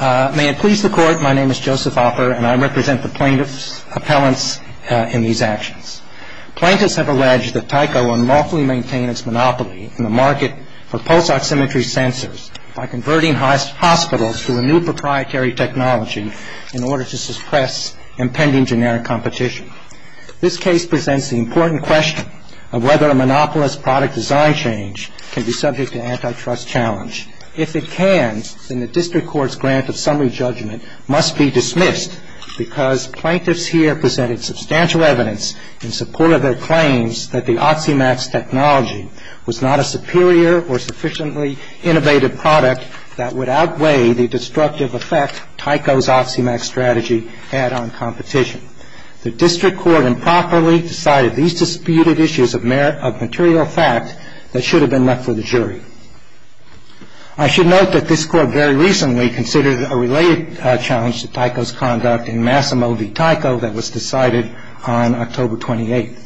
May it please the Court, my name is Joseph Hopper and I represent the plaintiff's appellants in these actions. Plaintiffs have alleged that Tyco unlawfully maintained its monopoly in the market for pulse oximetry sensors by converting hospitals to a new proprietary technology in order to suppress impending generic competition. This case presents the important question of whether a monopolist's product design change can be subject to antitrust challenge. If it can, then the District Court's grant of summary judgment must be dismissed because plaintiffs here presented substantial evidence in support of their claims that the Oximax technology was not a superior or sufficiently innovative product that would outweigh the destructive effect Tyco's Oximax strategy had on competition. The District Court improperly decided these disputed issues of material fact that should have been left for the jury. I should note that this Court very recently considered a related challenge to Tyco's conduct in Massimo v. Tyco that was decided on October 28th.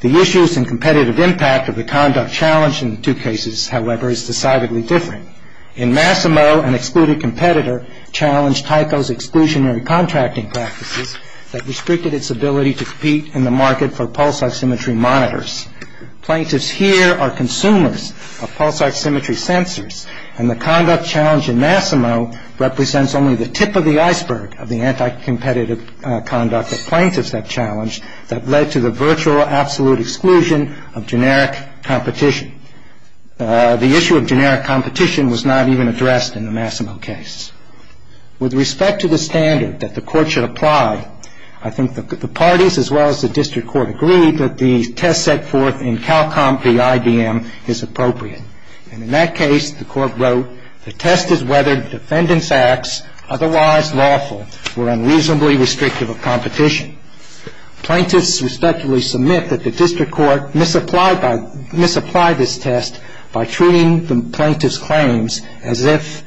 The issues and competitive impact of the conduct challenged in the two cases, however, is decidedly different. In Massimo, an excluded competitor challenged Tyco's exclusionary contracting practices that restricted its ability to compete in the market for pulse oximetry monitors. Plaintiffs here are consumers of pulse oximetry sensors, and the conduct challenge in Massimo represents only the tip of the iceberg of the anti-competitive conduct that plaintiffs have challenged that led to the virtual absolute exclusion of generic competition. The issue of generic competition was not even addressed in the Massimo case. With respect to the standard that the Court should apply, I think that the parties as well as the District Court agreed that the test set forth in Calcom v. IBM is appropriate. And in that case, the Court wrote, the test is whether the defendant's acts, otherwise lawful, were unreasonably restrictive of competition. Plaintiffs respectively submit that the District Court misapplied this test by treating the plaintiffs' claims as if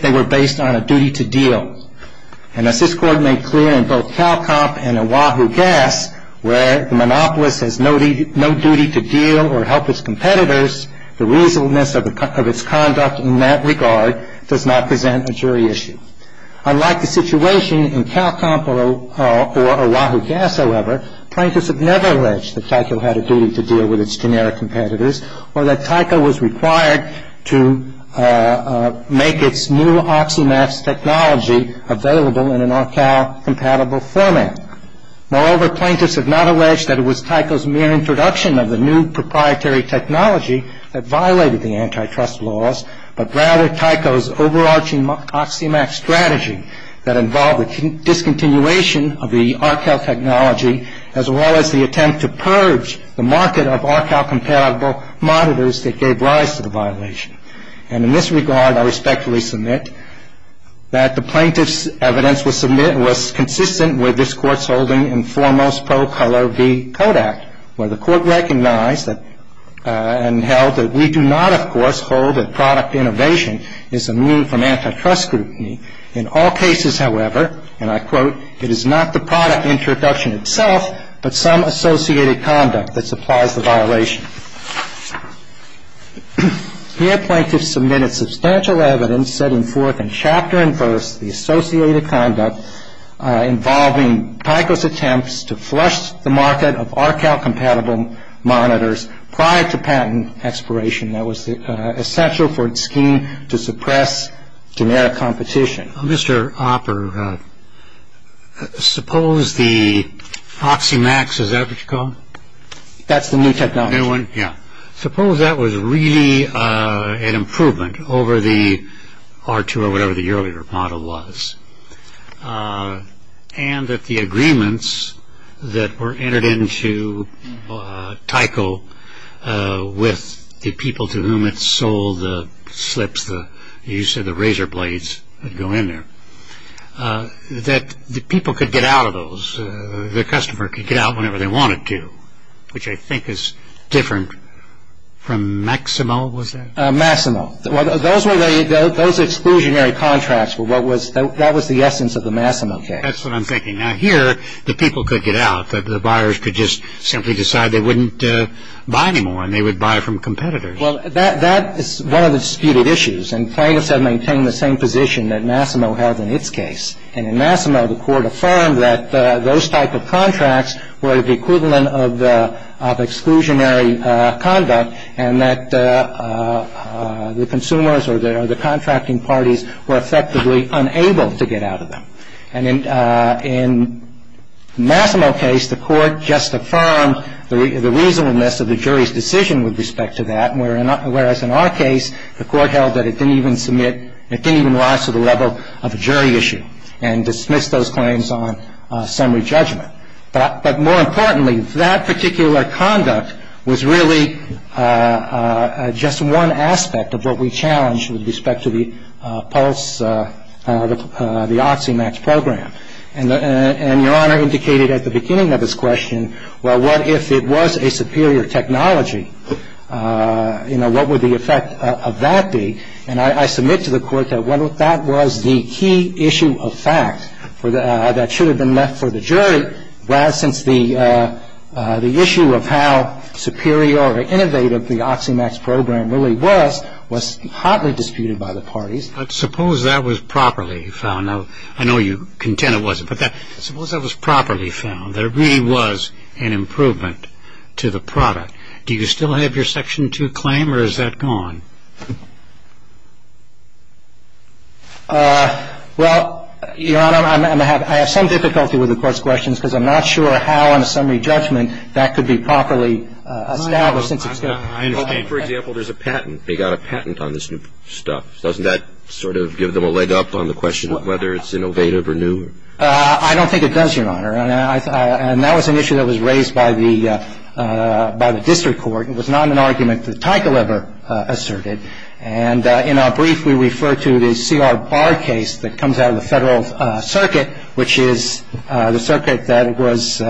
they were based on a duty to deal. And as this Court made clear in both Calcom and Oahu Gas, where the monopolist has no duty to deal or help its competitors, the reasonableness of its conduct in that regard does not present a jury issue. Unlike the situation in Calcom or Oahu Gas, however, plaintiffs have never alleged that Tyco had a duty to deal with its generic competitors or that Tyco was required to make its new Oxymax technology available in an Arcal-compatible format. Moreover, plaintiffs have not alleged that it was Tyco's mere introduction of the new proprietary technology that violated the antitrust laws, but rather Tyco's overarching Oxymax strategy that involved the discontinuation of the Arcal technology as well as the attempt to purge the market of Arcal-compatible monitors that gave rise to the violation. And in this regard, I respectfully submit that the plaintiffs' evidence was consistent with this Court's holding in foremost pro color v. Kodak, where the Court recognized and held that we do not, of course, hold that product innovation is immune from antitrust scrutiny. In all cases, however, and I quote, it is not the product introduction itself but some associated conduct that supplies the violation. Here, plaintiffs submitted substantial evidence setting forth in chapter and verse the associated conduct involving Tyco's attempts to flush the market of Arcal-compatible monitors prior to patent expiration that was essential for its scheme to suppress generic competition. Mr. Opper, suppose the Oxymax, is that what you call it? That's the new technology. New one, yeah. Suppose that was really an improvement over the R2 or whatever the earlier model was and that the agreements that were entered into Tyco with the people to whom it sold the slips, the use of the razor blades that go in there, that the people could get out of those, the customer could get out whenever they wanted to, which I think is different from Maximo, was that? Maximo. Those exclusionary contracts were what was, that was the essence of the Maximo case. That's what I'm thinking. Now, here, the people could get out, but the buyers could just simply decide they wouldn't buy anymore and they would buy from competitors. Well, that is one of the disputed issues, and plaintiffs have maintained the same position that Maximo has in its case. And in Maximo, the Court affirmed that those type of contracts were the equivalent of exclusionary conduct and that the consumers or the contracting parties were effectively unable to get out of them. And in Maximo case, the Court just affirmed the reasonableness of the jury's decision with respect to that, whereas in our case, the Court held that it didn't even submit, it didn't even rise to the level of a jury issue and dismissed those claims on summary judgment. But more importantly, that particular conduct was really just one aspect of what we challenged with respect to the pulse, the Oxymax program. And Your Honor indicated at the beginning of this question, well, what if it was a superior technology? You know, what would the effect of that be? And I submit to the Court that that was the key issue of fact that should have been left for the jury, whereas since the issue of how superior or innovative the Oxymax program really was, was hotly disputed by the parties. But suppose that was properly found. Now, I know you contend it wasn't, but suppose that was properly found, there really was an improvement to the product. Do you still have your Section 2 claim, or is that gone? Well, Your Honor, I have some difficulty with the Court's questions, because I'm not sure how in a summary judgment that could be properly established. I understand. For example, there's a patent. They got a patent on this new stuff. Doesn't that sort of give them a leg up on the question of whether it's innovative or new? I don't think it does, Your Honor. And that was an issue that was raised by the district court. It was not an argument that Teichel ever asserted. And in our brief, we refer to the C.R. Barr case that comes out of the Federal Circuit, which is the circuit that was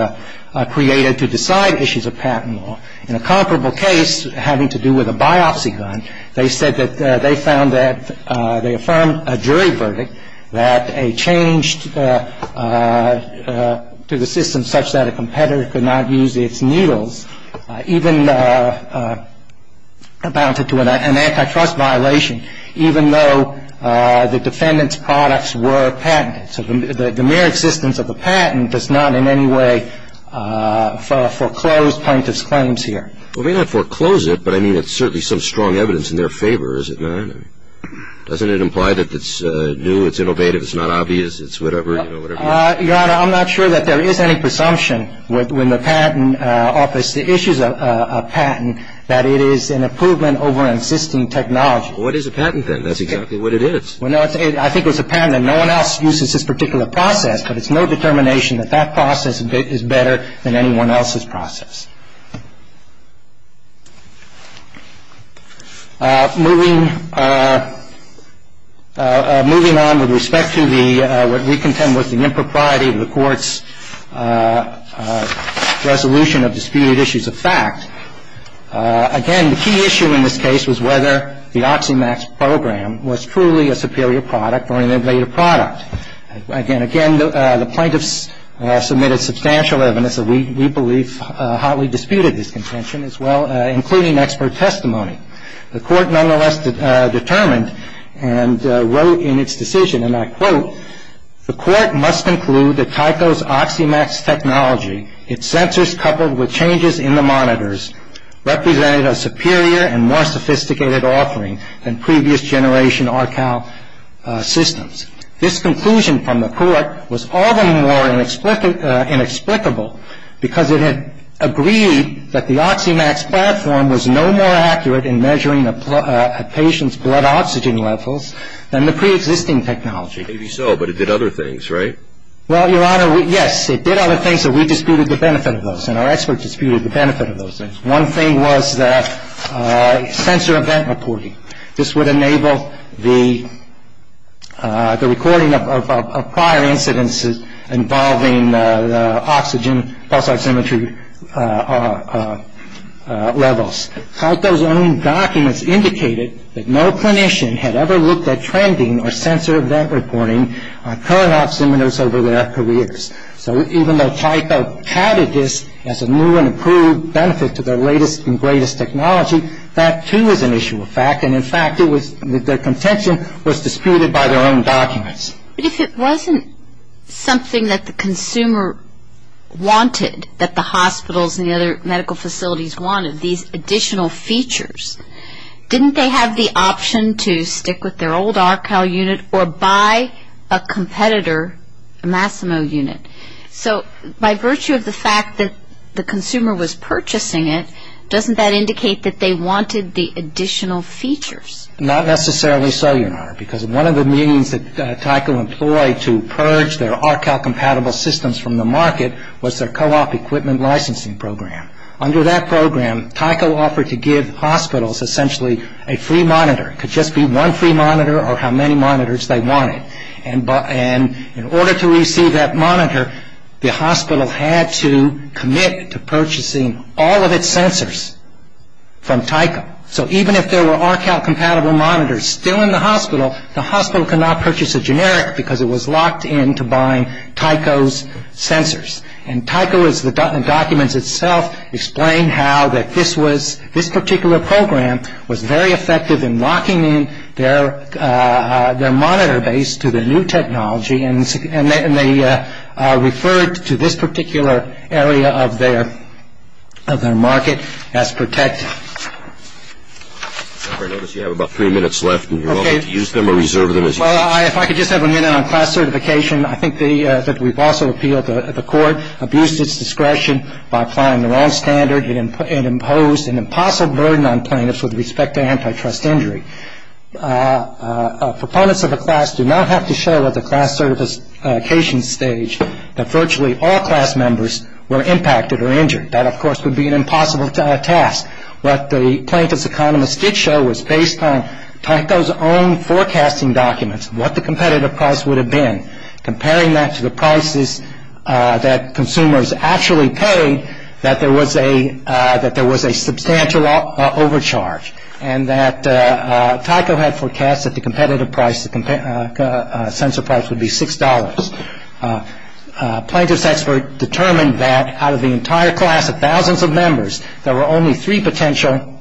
created to decide issues of patent law. In a comparable case having to do with a biopsy gun, they said that they found that they affirmed a jury verdict that a change to the system such that a competitor could not use its needles even amounted to an antitrust violation, even though the defendant's products were patented. So the mere existence of a patent does not in any way foreclose plaintiff's claims here. Well, it may not foreclose it, but I mean it's certainly some strong evidence in their favor, is it not? Doesn't it imply that it's new, it's innovative, it's not obvious, it's whatever, you know, whatever? Your Honor, I'm not sure that there is any presumption when the patent office issues a patent that it is an improvement over an existing technology. Well, what is a patent then? That's exactly what it is. Well, no, I think it's a patent that no one else uses this particular process, but it's no determination that that process is better than anyone else's process. Moving on with respect to what we contend was the impropriety of the Court's resolution of disputed issues of fact, again, the key issue in this case was whether the Oxymax program was truly a superior product or an invalid product. Again, the plaintiffs submitted substantial evidence that we believe hotly disputed this contention as well, including expert testimony. The Court nonetheless determined and wrote in its decision, and I quote, the Court must conclude that Tyco's Oxymax technology, its sensors coupled with changes in the monitors, represented a superior and more sophisticated offering than previous generation Arcal systems. This conclusion from the Court was all the more inexplicable because it had agreed that the Oxymax platform was no more accurate in measuring a patient's blood oxygen levels than the preexisting technology. Maybe so, but it did other things, right? Well, Your Honor, yes, it did other things, but we disputed the benefit of those, and our experts disputed the benefit of those things. One thing was the sensor event reporting. This would enable the recording of prior incidences involving the oxygen pulse oximetry levels. Tyco's own documents indicated that no clinician had ever looked at trending or sensor event reporting on current oximeters over their careers. So even though Tyco touted this as a new and improved benefit to their latest and greatest technology, that, too, is an issue of fact, and, in fact, the contention was disputed by their own documents. But if it wasn't something that the consumer wanted, that the hospitals and the other medical facilities wanted, these additional features, didn't they have the option to stick with their old Arcal unit or buy a competitor Massimo unit? So by virtue of the fact that the consumer was purchasing it, doesn't that indicate that they wanted the additional features? Not necessarily so, Your Honor, because one of the means that Tyco employed to purge their Arcal-compatible systems from the market was their co-op equipment licensing program. Under that program, Tyco offered to give hospitals essentially a free monitor. It could just be one free monitor or how many monitors they wanted. And in order to receive that monitor, the hospital had to commit to purchasing all of its sensors from Tyco. So even if there were Arcal-compatible monitors still in the hospital, the hospital could not purchase a generic because it was locked in to buying Tyco's sensors. And Tyco's documents itself explain how this particular program was very effective in locking in their monitor base to the new technology, and they referred to this particular area of their market as protected. Your Honor, I notice you have about three minutes left, and you're welcome to use them or reserve them as you wish. Well, if I could just have a minute on class certification. I think that we've also appealed the court, abused its discretion by applying the wrong standard and imposed an impossible burden on plaintiffs with respect to antitrust injury. Proponents of the class do not have to show at the class certification stage that virtually all class members were impacted or injured. That, of course, would be an impossible task. What the plaintiffs' economists did show was based on Tyco's own forecasting documents, what the competitive price would have been, comparing that to the prices that consumers actually paid, that there was a substantial overcharge, and that Tyco had forecast that the competitive price, the sensor price, would be $6. Plaintiffs' experts determined that out of the entire class of thousands of members, there were only three potential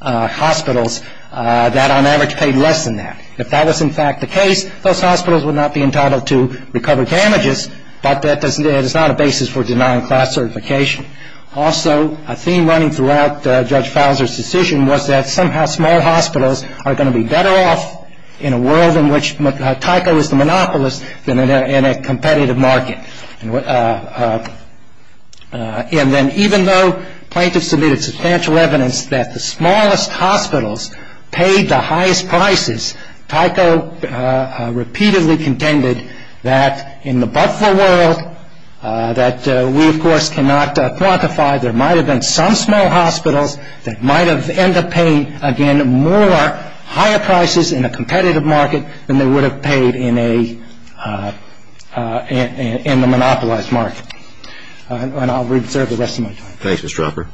hospitals that on average paid less than that. If that was, in fact, the case, those hospitals would not be entitled to recover damages, but that is not a basis for denying class certification. Also, a theme running throughout Judge Fowler's decision was that somehow small hospitals are going to be better off in a world in which Tyco is the monopolist than in a competitive market. And then even though plaintiffs submitted substantial evidence that the smallest hospitals paid the highest prices, Tyco repeatedly contended that in the Buffalo world, that we, of course, cannot quantify, there might have been some small hospitals that might have ended up paying, again, more higher prices in a competitive market than they would have paid in a monopolized market. And I'll reserve the rest of my time. Thanks, Mr. Hopper.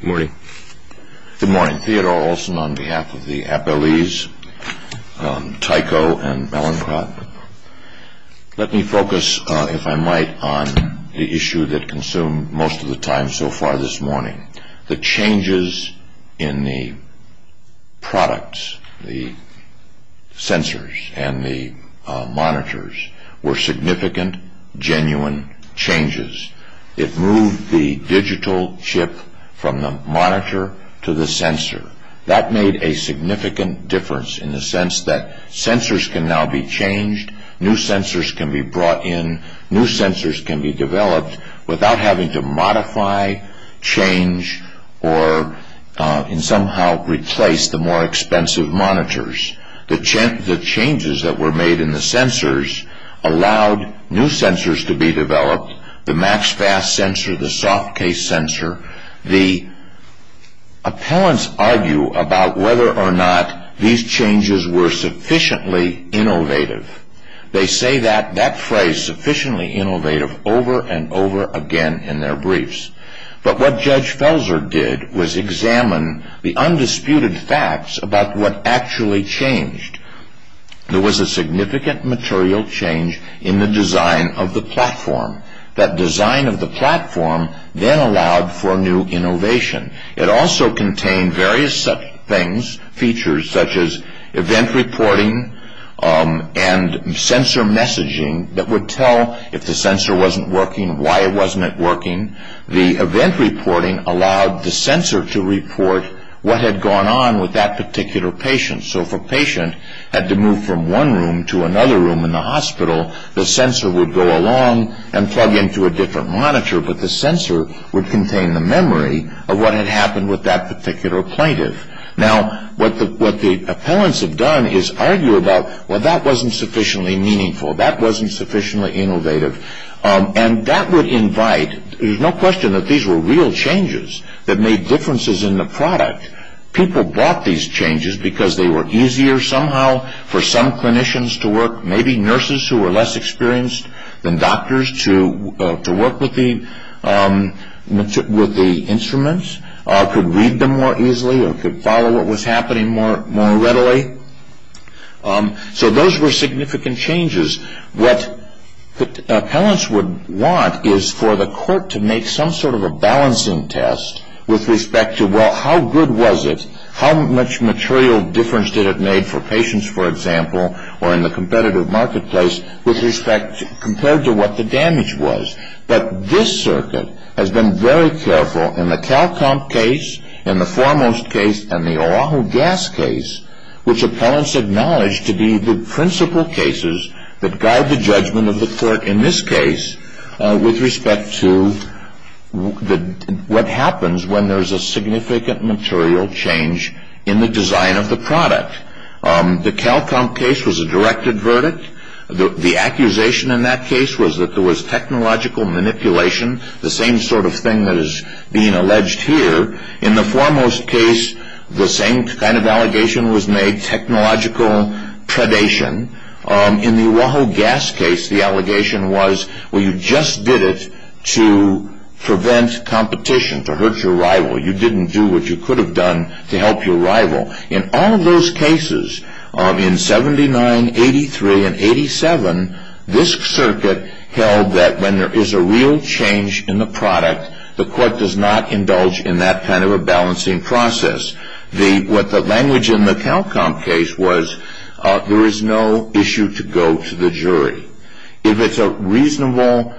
Good morning. Good morning. Theodore Olson on behalf of the appellees, Tyco and Mallincott. Let me focus, if I might, on the issue that consumed most of the time so far this morning, the changes in the products, the sensors and the monitors, were significant, genuine changes. It moved the digital chip from the monitor to the sensor. That made a significant difference in the sense that sensors can now be changed, new sensors can be brought in, new sensors can be developed without having to modify, change, or somehow replace the more expensive monitors. The changes that were made in the sensors allowed new sensors to be developed, the MaxFast sensor, the Softcase sensor. The appellants argue about whether or not these changes were sufficiently innovative. They say that phrase, sufficiently innovative, over and over again in their briefs. But what Judge Felser did was examine the undisputed facts about what actually changed. There was a significant material change in the design of the platform. That design of the platform then allowed for new innovation. It also contained various such things, features, such as event reporting and sensor messaging that would tell if the sensor wasn't working, why it wasn't working. The event reporting allowed the sensor to report what had gone on with that particular patient. So if a patient had to move from one room to another room in the hospital, the sensor would go along and plug into a different monitor, but the sensor would contain the memory of what had happened with that particular plaintiff. Now, what the appellants have done is argue about, well, that wasn't sufficiently meaningful, that wasn't sufficiently innovative. And that would invite, there's no question that these were real changes that made differences in the product. People bought these changes because they were easier somehow for some clinicians to work, maybe nurses who were less experienced than doctors to work with the instruments, could read them more easily or could follow what was happening more readily. So those were significant changes. What appellants would want is for the court to make some sort of a balancing test with respect to, well, how good was it, how much material difference did it make for patients, for example, or in the competitive marketplace with respect, compared to what the damage was. But this circuit has been very careful in the CalComp case, in the Foremost case, and the Oahu Gas case, which appellants acknowledge to be the principal cases that guide the judgment of the court in this case with respect to what happens when there's a significant material change in the design of the product. The CalComp case was a directed verdict. The accusation in that case was that there was technological manipulation, the same sort of thing that is being alleged here. In the Foremost case, the same kind of allegation was made, technological predation. In the Oahu Gas case, the allegation was, well, you just did it to prevent competition, to hurt your rival. You didn't do what you could have done to help your rival. In all of those cases, in 79, 83, and 87, this circuit held that when there is a real change in the product, the court does not indulge in that kind of a balancing process. What the language in the CalComp case was, there is no issue to go to the jury. If it's a reasonable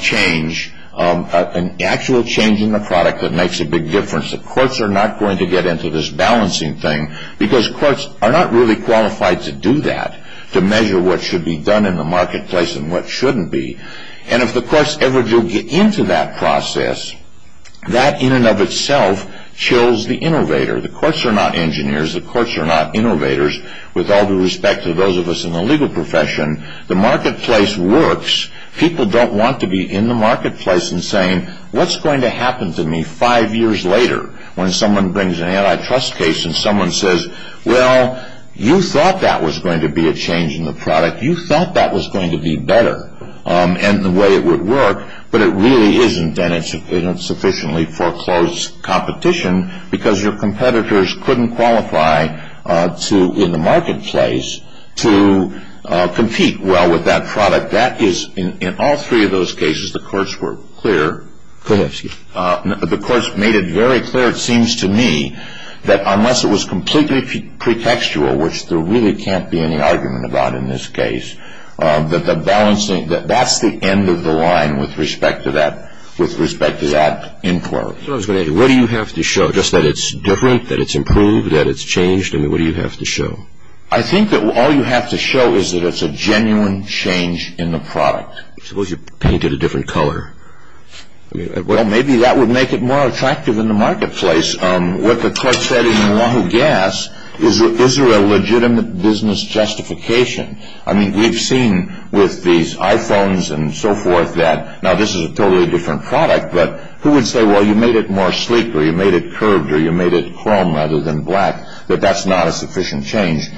change, an actual change in the product that makes a big difference, the courts are not going to get into this balancing thing because courts are not really qualified to do that, to measure what should be done in the marketplace and what shouldn't be. If the courts ever do get into that process, that in and of itself chills the innovator. The courts are not engineers. The courts are not innovators. With all due respect to those of us in the legal profession, the marketplace works. People don't want to be in the marketplace and saying, what's going to happen to me five years later when someone brings an antitrust case and someone says, well, you thought that was going to be a change in the product. You thought that was going to be better and the way it would work, but it really isn't and it's sufficiently foreclosed competition because your competitors couldn't qualify in the marketplace to compete well with that product. In all three of those cases, the courts were clear. The courts made it very clear, it seems to me, that unless it was completely pretextual, which there really can't be any argument about in this case, that that's the end of the line with respect to that inquiry. What do you have to show, just that it's different, that it's improved, that it's changed? What do you have to show? I think that all you have to show is that it's a genuine change in the product. Suppose you painted a different color. Well, maybe that would make it more attractive in the marketplace. What the court said in Oahu Gas is that is there a legitimate business justification? I mean, we've seen with these iPhones and so forth that now this is a totally different product, but who would say, well, you made it more sleek or you made it curved or you made it chrome rather than black, that that's not a sufficient change.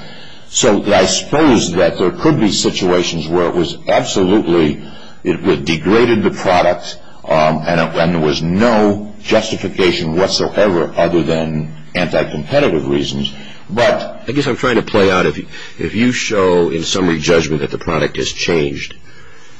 So I suppose that there could be situations where it was absolutely, it degraded the product and there was no justification whatsoever other than anti-competitive reasons. I guess I'm trying to play out, if you show in summary judgment that the product has changed,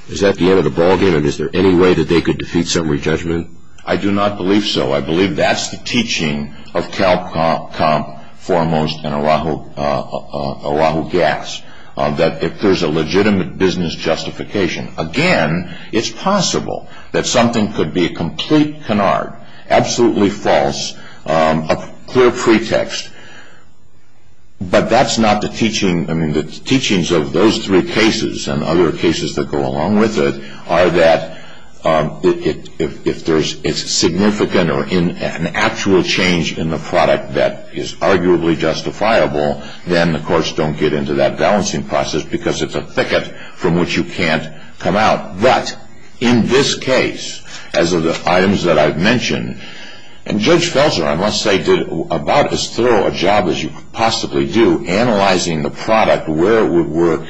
is that the end of the ballgame and is there any way that they could defeat summary judgment? I do not believe so. I believe that's the teaching of Cal Comp Foremost and Oahu Gas, that if there's a legitimate business justification. Again, it's possible that something could be a complete canard, absolutely false, a clear pretext, but that's not the teaching. I mean, the teachings of those three cases and other cases that go along with it are that if it's significant or an actual change in the product that is arguably justifiable, then the courts don't get into that balancing process because it's a thicket from which you can't come out. But in this case, as of the items that I've mentioned, and Judge Felser, I must say, did about as thorough a job as you could possibly do in analyzing the product, where it would work,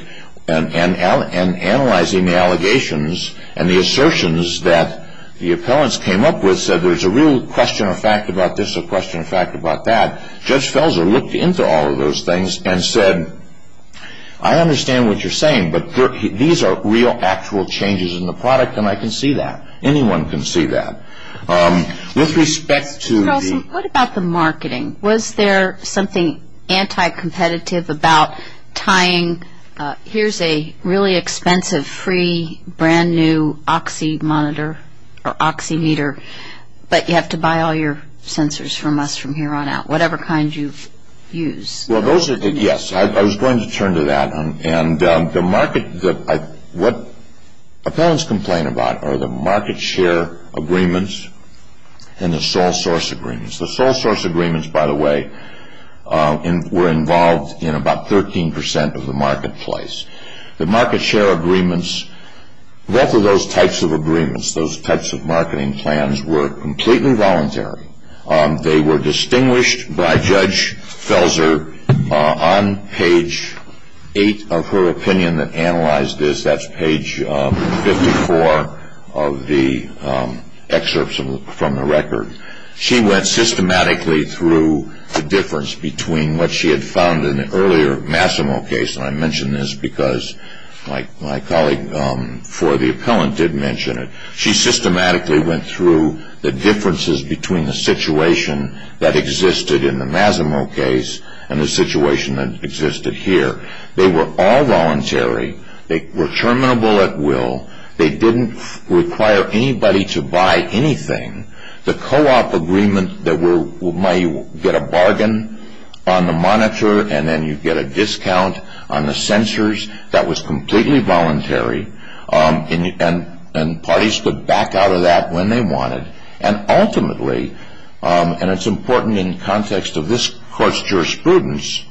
and analyzing the allegations and the assertions that the appellants came up with, said there's a real question of fact about this, a question of fact about that. Judge Felser looked into all of those things and said, I understand what you're saying, but these are real actual changes in the product, and I can see that. Anyone can see that. With respect to the- What about the marketing? Was there something anti-competitive about tying, here's a really expensive, free, brand-new oxy monitor or oxymeter, but you have to buy all your sensors from us from here on out, whatever kind you use. Well, those are the- Yes, I was going to turn to that. And the market that I- What appellants complain about are the market share agreements and the sole source agreements. The sole source agreements, by the way, were involved in about 13% of the marketplace. The market share agreements, both of those types of agreements, those types of marketing plans were completely voluntary. They were distinguished by Judge Felser on page 8 of her opinion that analyzed this. That's page 54 of the excerpts from the record. She went systematically through the difference between what she had found in the earlier Massimo case, and I mention this because my colleague for the appellant did mention it. She systematically went through the differences between the situation that existed in the Massimo case and the situation that existed here. They were all voluntary. They were terminable at will. They didn't require anybody to buy anything. The co-op agreement that you get a bargain on the monitor and then you get a discount on the censors, that was completely voluntary. And parties could back out of that when they wanted. And ultimately, and it's important in context of this Court's jurisprudence,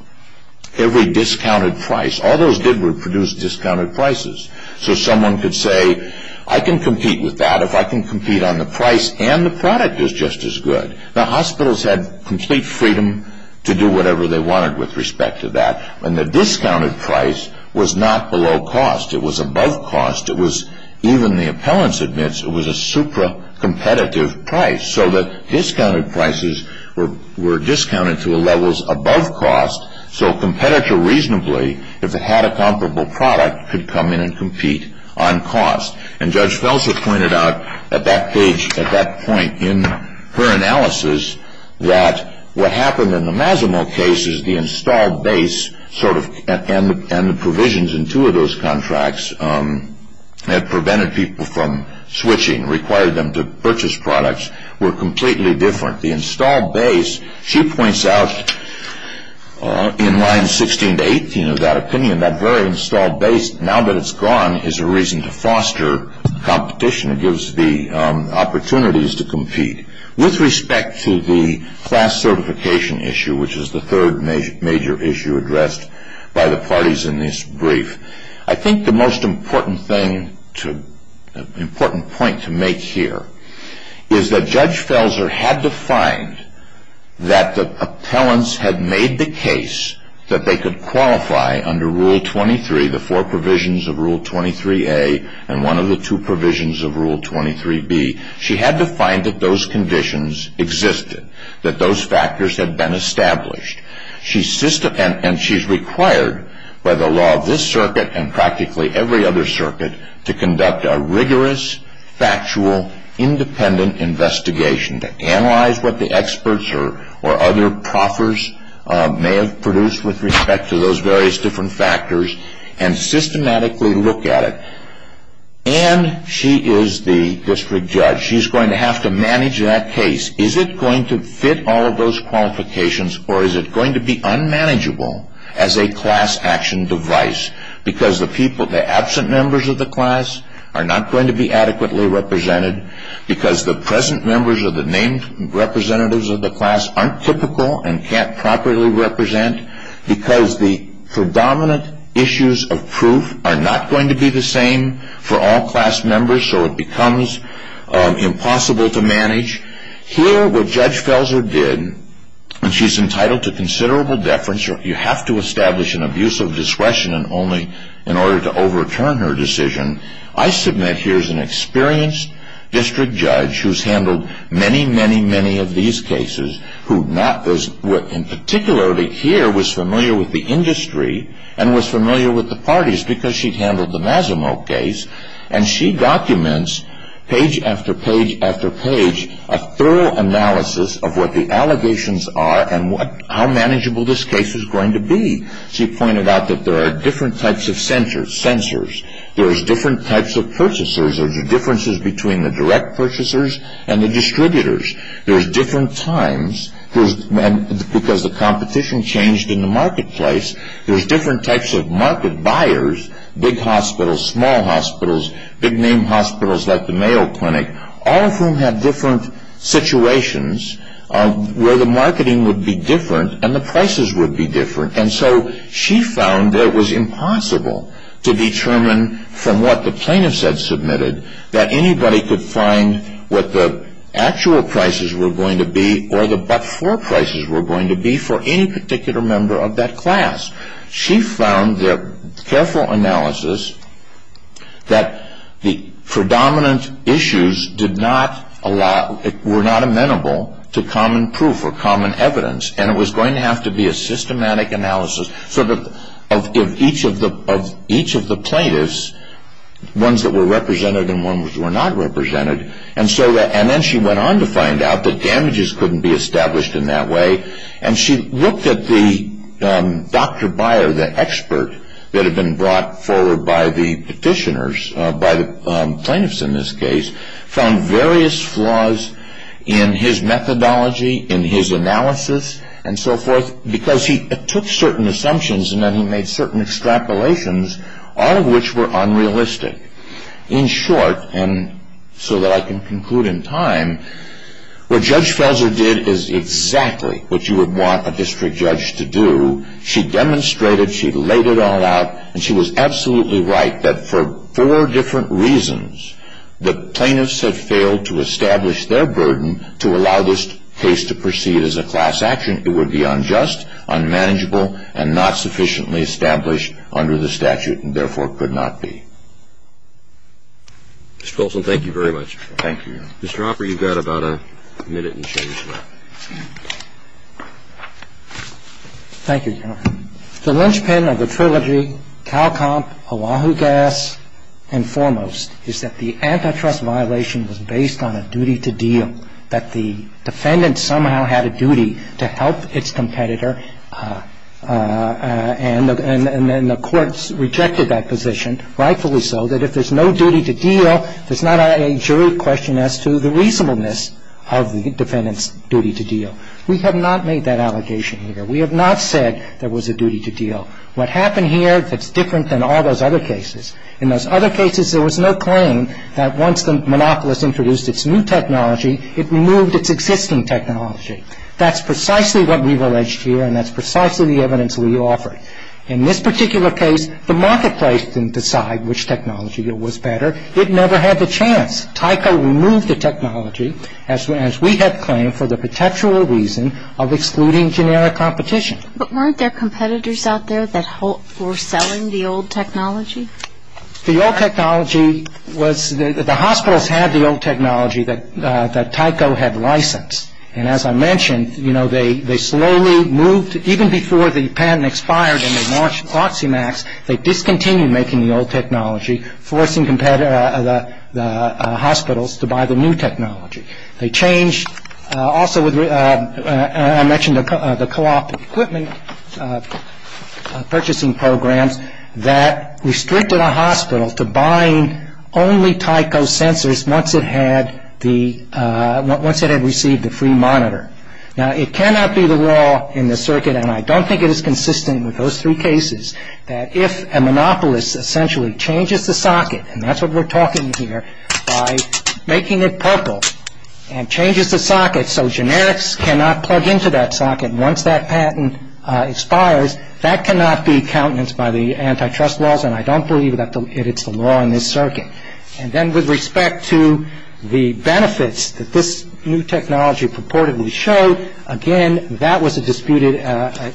every discounted price, all those did was produce discounted prices. So someone could say, I can compete with that. If I can compete on the price and the product is just as good. The hospitals had complete freedom to do whatever they wanted with respect to that. And the discounted price was not below cost. It was above cost. It was, even the appellant admits, it was a supra-competitive price. So the discounted prices were discounted to levels above cost, so a competitor reasonably, if it had a comparable product, could come in and compete on cost. And Judge Felser pointed out at that page, at that point in her analysis, that what happened in the Masimo case is the installed base sort of, and the provisions in two of those contracts that prevented people from switching, required them to purchase products, were completely different. The installed base, she points out in line 16 to 18 of that opinion, that very installed base, now that it's gone, is a reason to foster competition. It gives the opportunities to compete. With respect to the class certification issue, which is the third major issue addressed by the parties in this brief, I think the most important point to make here is that Judge Felser had to find that the appellants had made the case that they could qualify under Rule 23, the four provisions of Rule 23A and one of the two provisions of Rule 23B. She had to find that those conditions existed, that those factors had been established. And she's required by the law of this circuit and practically every other circuit to conduct a rigorous, factual, independent investigation to analyze what the experts or other proffers may have produced with respect to those various different factors and systematically look at it. And she is the district judge. She's going to have to manage that case. Is it going to fit all of those qualifications or is it going to be unmanageable as a class action device because the absent members of the class are not going to be adequately represented because the present members or the named representatives of the class aren't typical and can't properly represent because the predominant issues of proof are not going to be the same for all class members so it becomes impossible to manage? Here what Judge Felser did, and she's entitled to considerable deference, you have to establish an abuse of discretion only in order to overturn her decision. I submit here's an experienced district judge who's handled many, many, many of these cases who in particular here was familiar with the industry and was familiar with the parties because she'd handled the Massimo case and she documents page after page after page a thorough analysis of what the allegations are and how manageable this case is going to be. She pointed out that there are different types of censors. There's different types of purchasers. There's differences between the direct purchasers and the distributors. There's different times because the competition changed in the marketplace. There's different types of market buyers, big hospitals, small hospitals, big name hospitals like the Mayo Clinic, all of whom have different situations where the marketing would be different and the prices would be different and so she found that it was impossible to determine from what the plaintiffs had submitted that anybody could find what the actual prices were going to be or the but-for prices were going to be for any particular member of that class. She found the careful analysis that the predominant issues did not allow, were not amenable to common proof or common evidence and it was going to have to be a systematic analysis of each of the plaintiffs, ones that were represented and ones that were not represented and then she went on to find out that damages couldn't be established in that way and she looked at the doctor buyer, the expert, that had been brought forward by the petitioners, by the plaintiffs in this case, found various flaws in his methodology, in his analysis and so forth because he took certain assumptions and then he made certain extrapolations, all of which were unrealistic. In short, and so that I can conclude in time, what Judge Felser did is exactly what you would want a district judge to do. She demonstrated, she laid it all out, and she was absolutely right that for four different reasons the plaintiffs had failed to establish their burden to allow this case to proceed as a class action. It would be unjust, unmanageable, and not sufficiently established under the statute and therefore could not be. Mr. Folsom, thank you very much. Thank you, Your Honor. Mr. Hopper, you've got about a minute and change left. Thank you, Your Honor. The linchpin of the trilogy, CalComp, Oahu Gas, and Foremost, is that the antitrust violation was based on a duty to deal, that the defendant somehow had a duty to help its competitor and the courts rejected that position, rightfully so, that if there's no duty to deal, there's not a jury question as to the reasonableness of the defendant's duty to deal. We have not made that allegation here. We have not said there was a duty to deal. What happened here, that's different than all those other cases. In those other cases, there was no claim that once the monopolist introduced its new technology, it removed its existing technology. That's precisely what we've alleged here, and that's precisely the evidence we offered. In this particular case, the marketplace didn't decide which technology was better. It never had the chance. Tyco removed the technology, as we had claimed, for the potential reason of excluding generic competition. But weren't there competitors out there that were selling the old technology? The old technology was, the hospitals had the old technology that Tyco had licensed, and as I mentioned, you know, they slowly moved, even before the patent expired and they launched Proximax, they discontinued making the old technology, forcing the hospitals to buy the new technology. They changed, also, as I mentioned, the co-op equipment purchasing programs that restricted a hospital to buying only Tyco sensors once it had received the free monitor. Now, it cannot be the law in the circuit, and I don't think it is consistent with those three cases, that if a monopolist essentially changes the socket, and that's what we're talking here, by making it purple and changes the socket so generics cannot plug into that socket once that patent expires, that cannot be countenance by the antitrust laws, and I don't believe that it's the law in this circuit. And then with respect to the benefits that this new technology purportedly showed, again, that was a disputed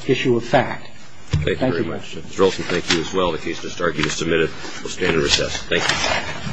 issue of fact. Thank you very much. Mr. Olson, thank you as well. The case has just argued and submitted. We'll stand at recess. Thank you.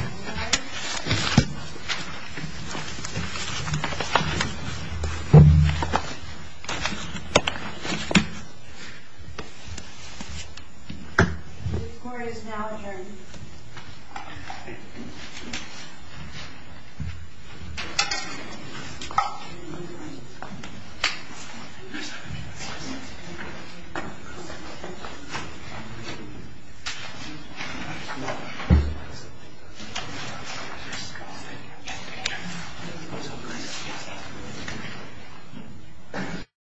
Thank you.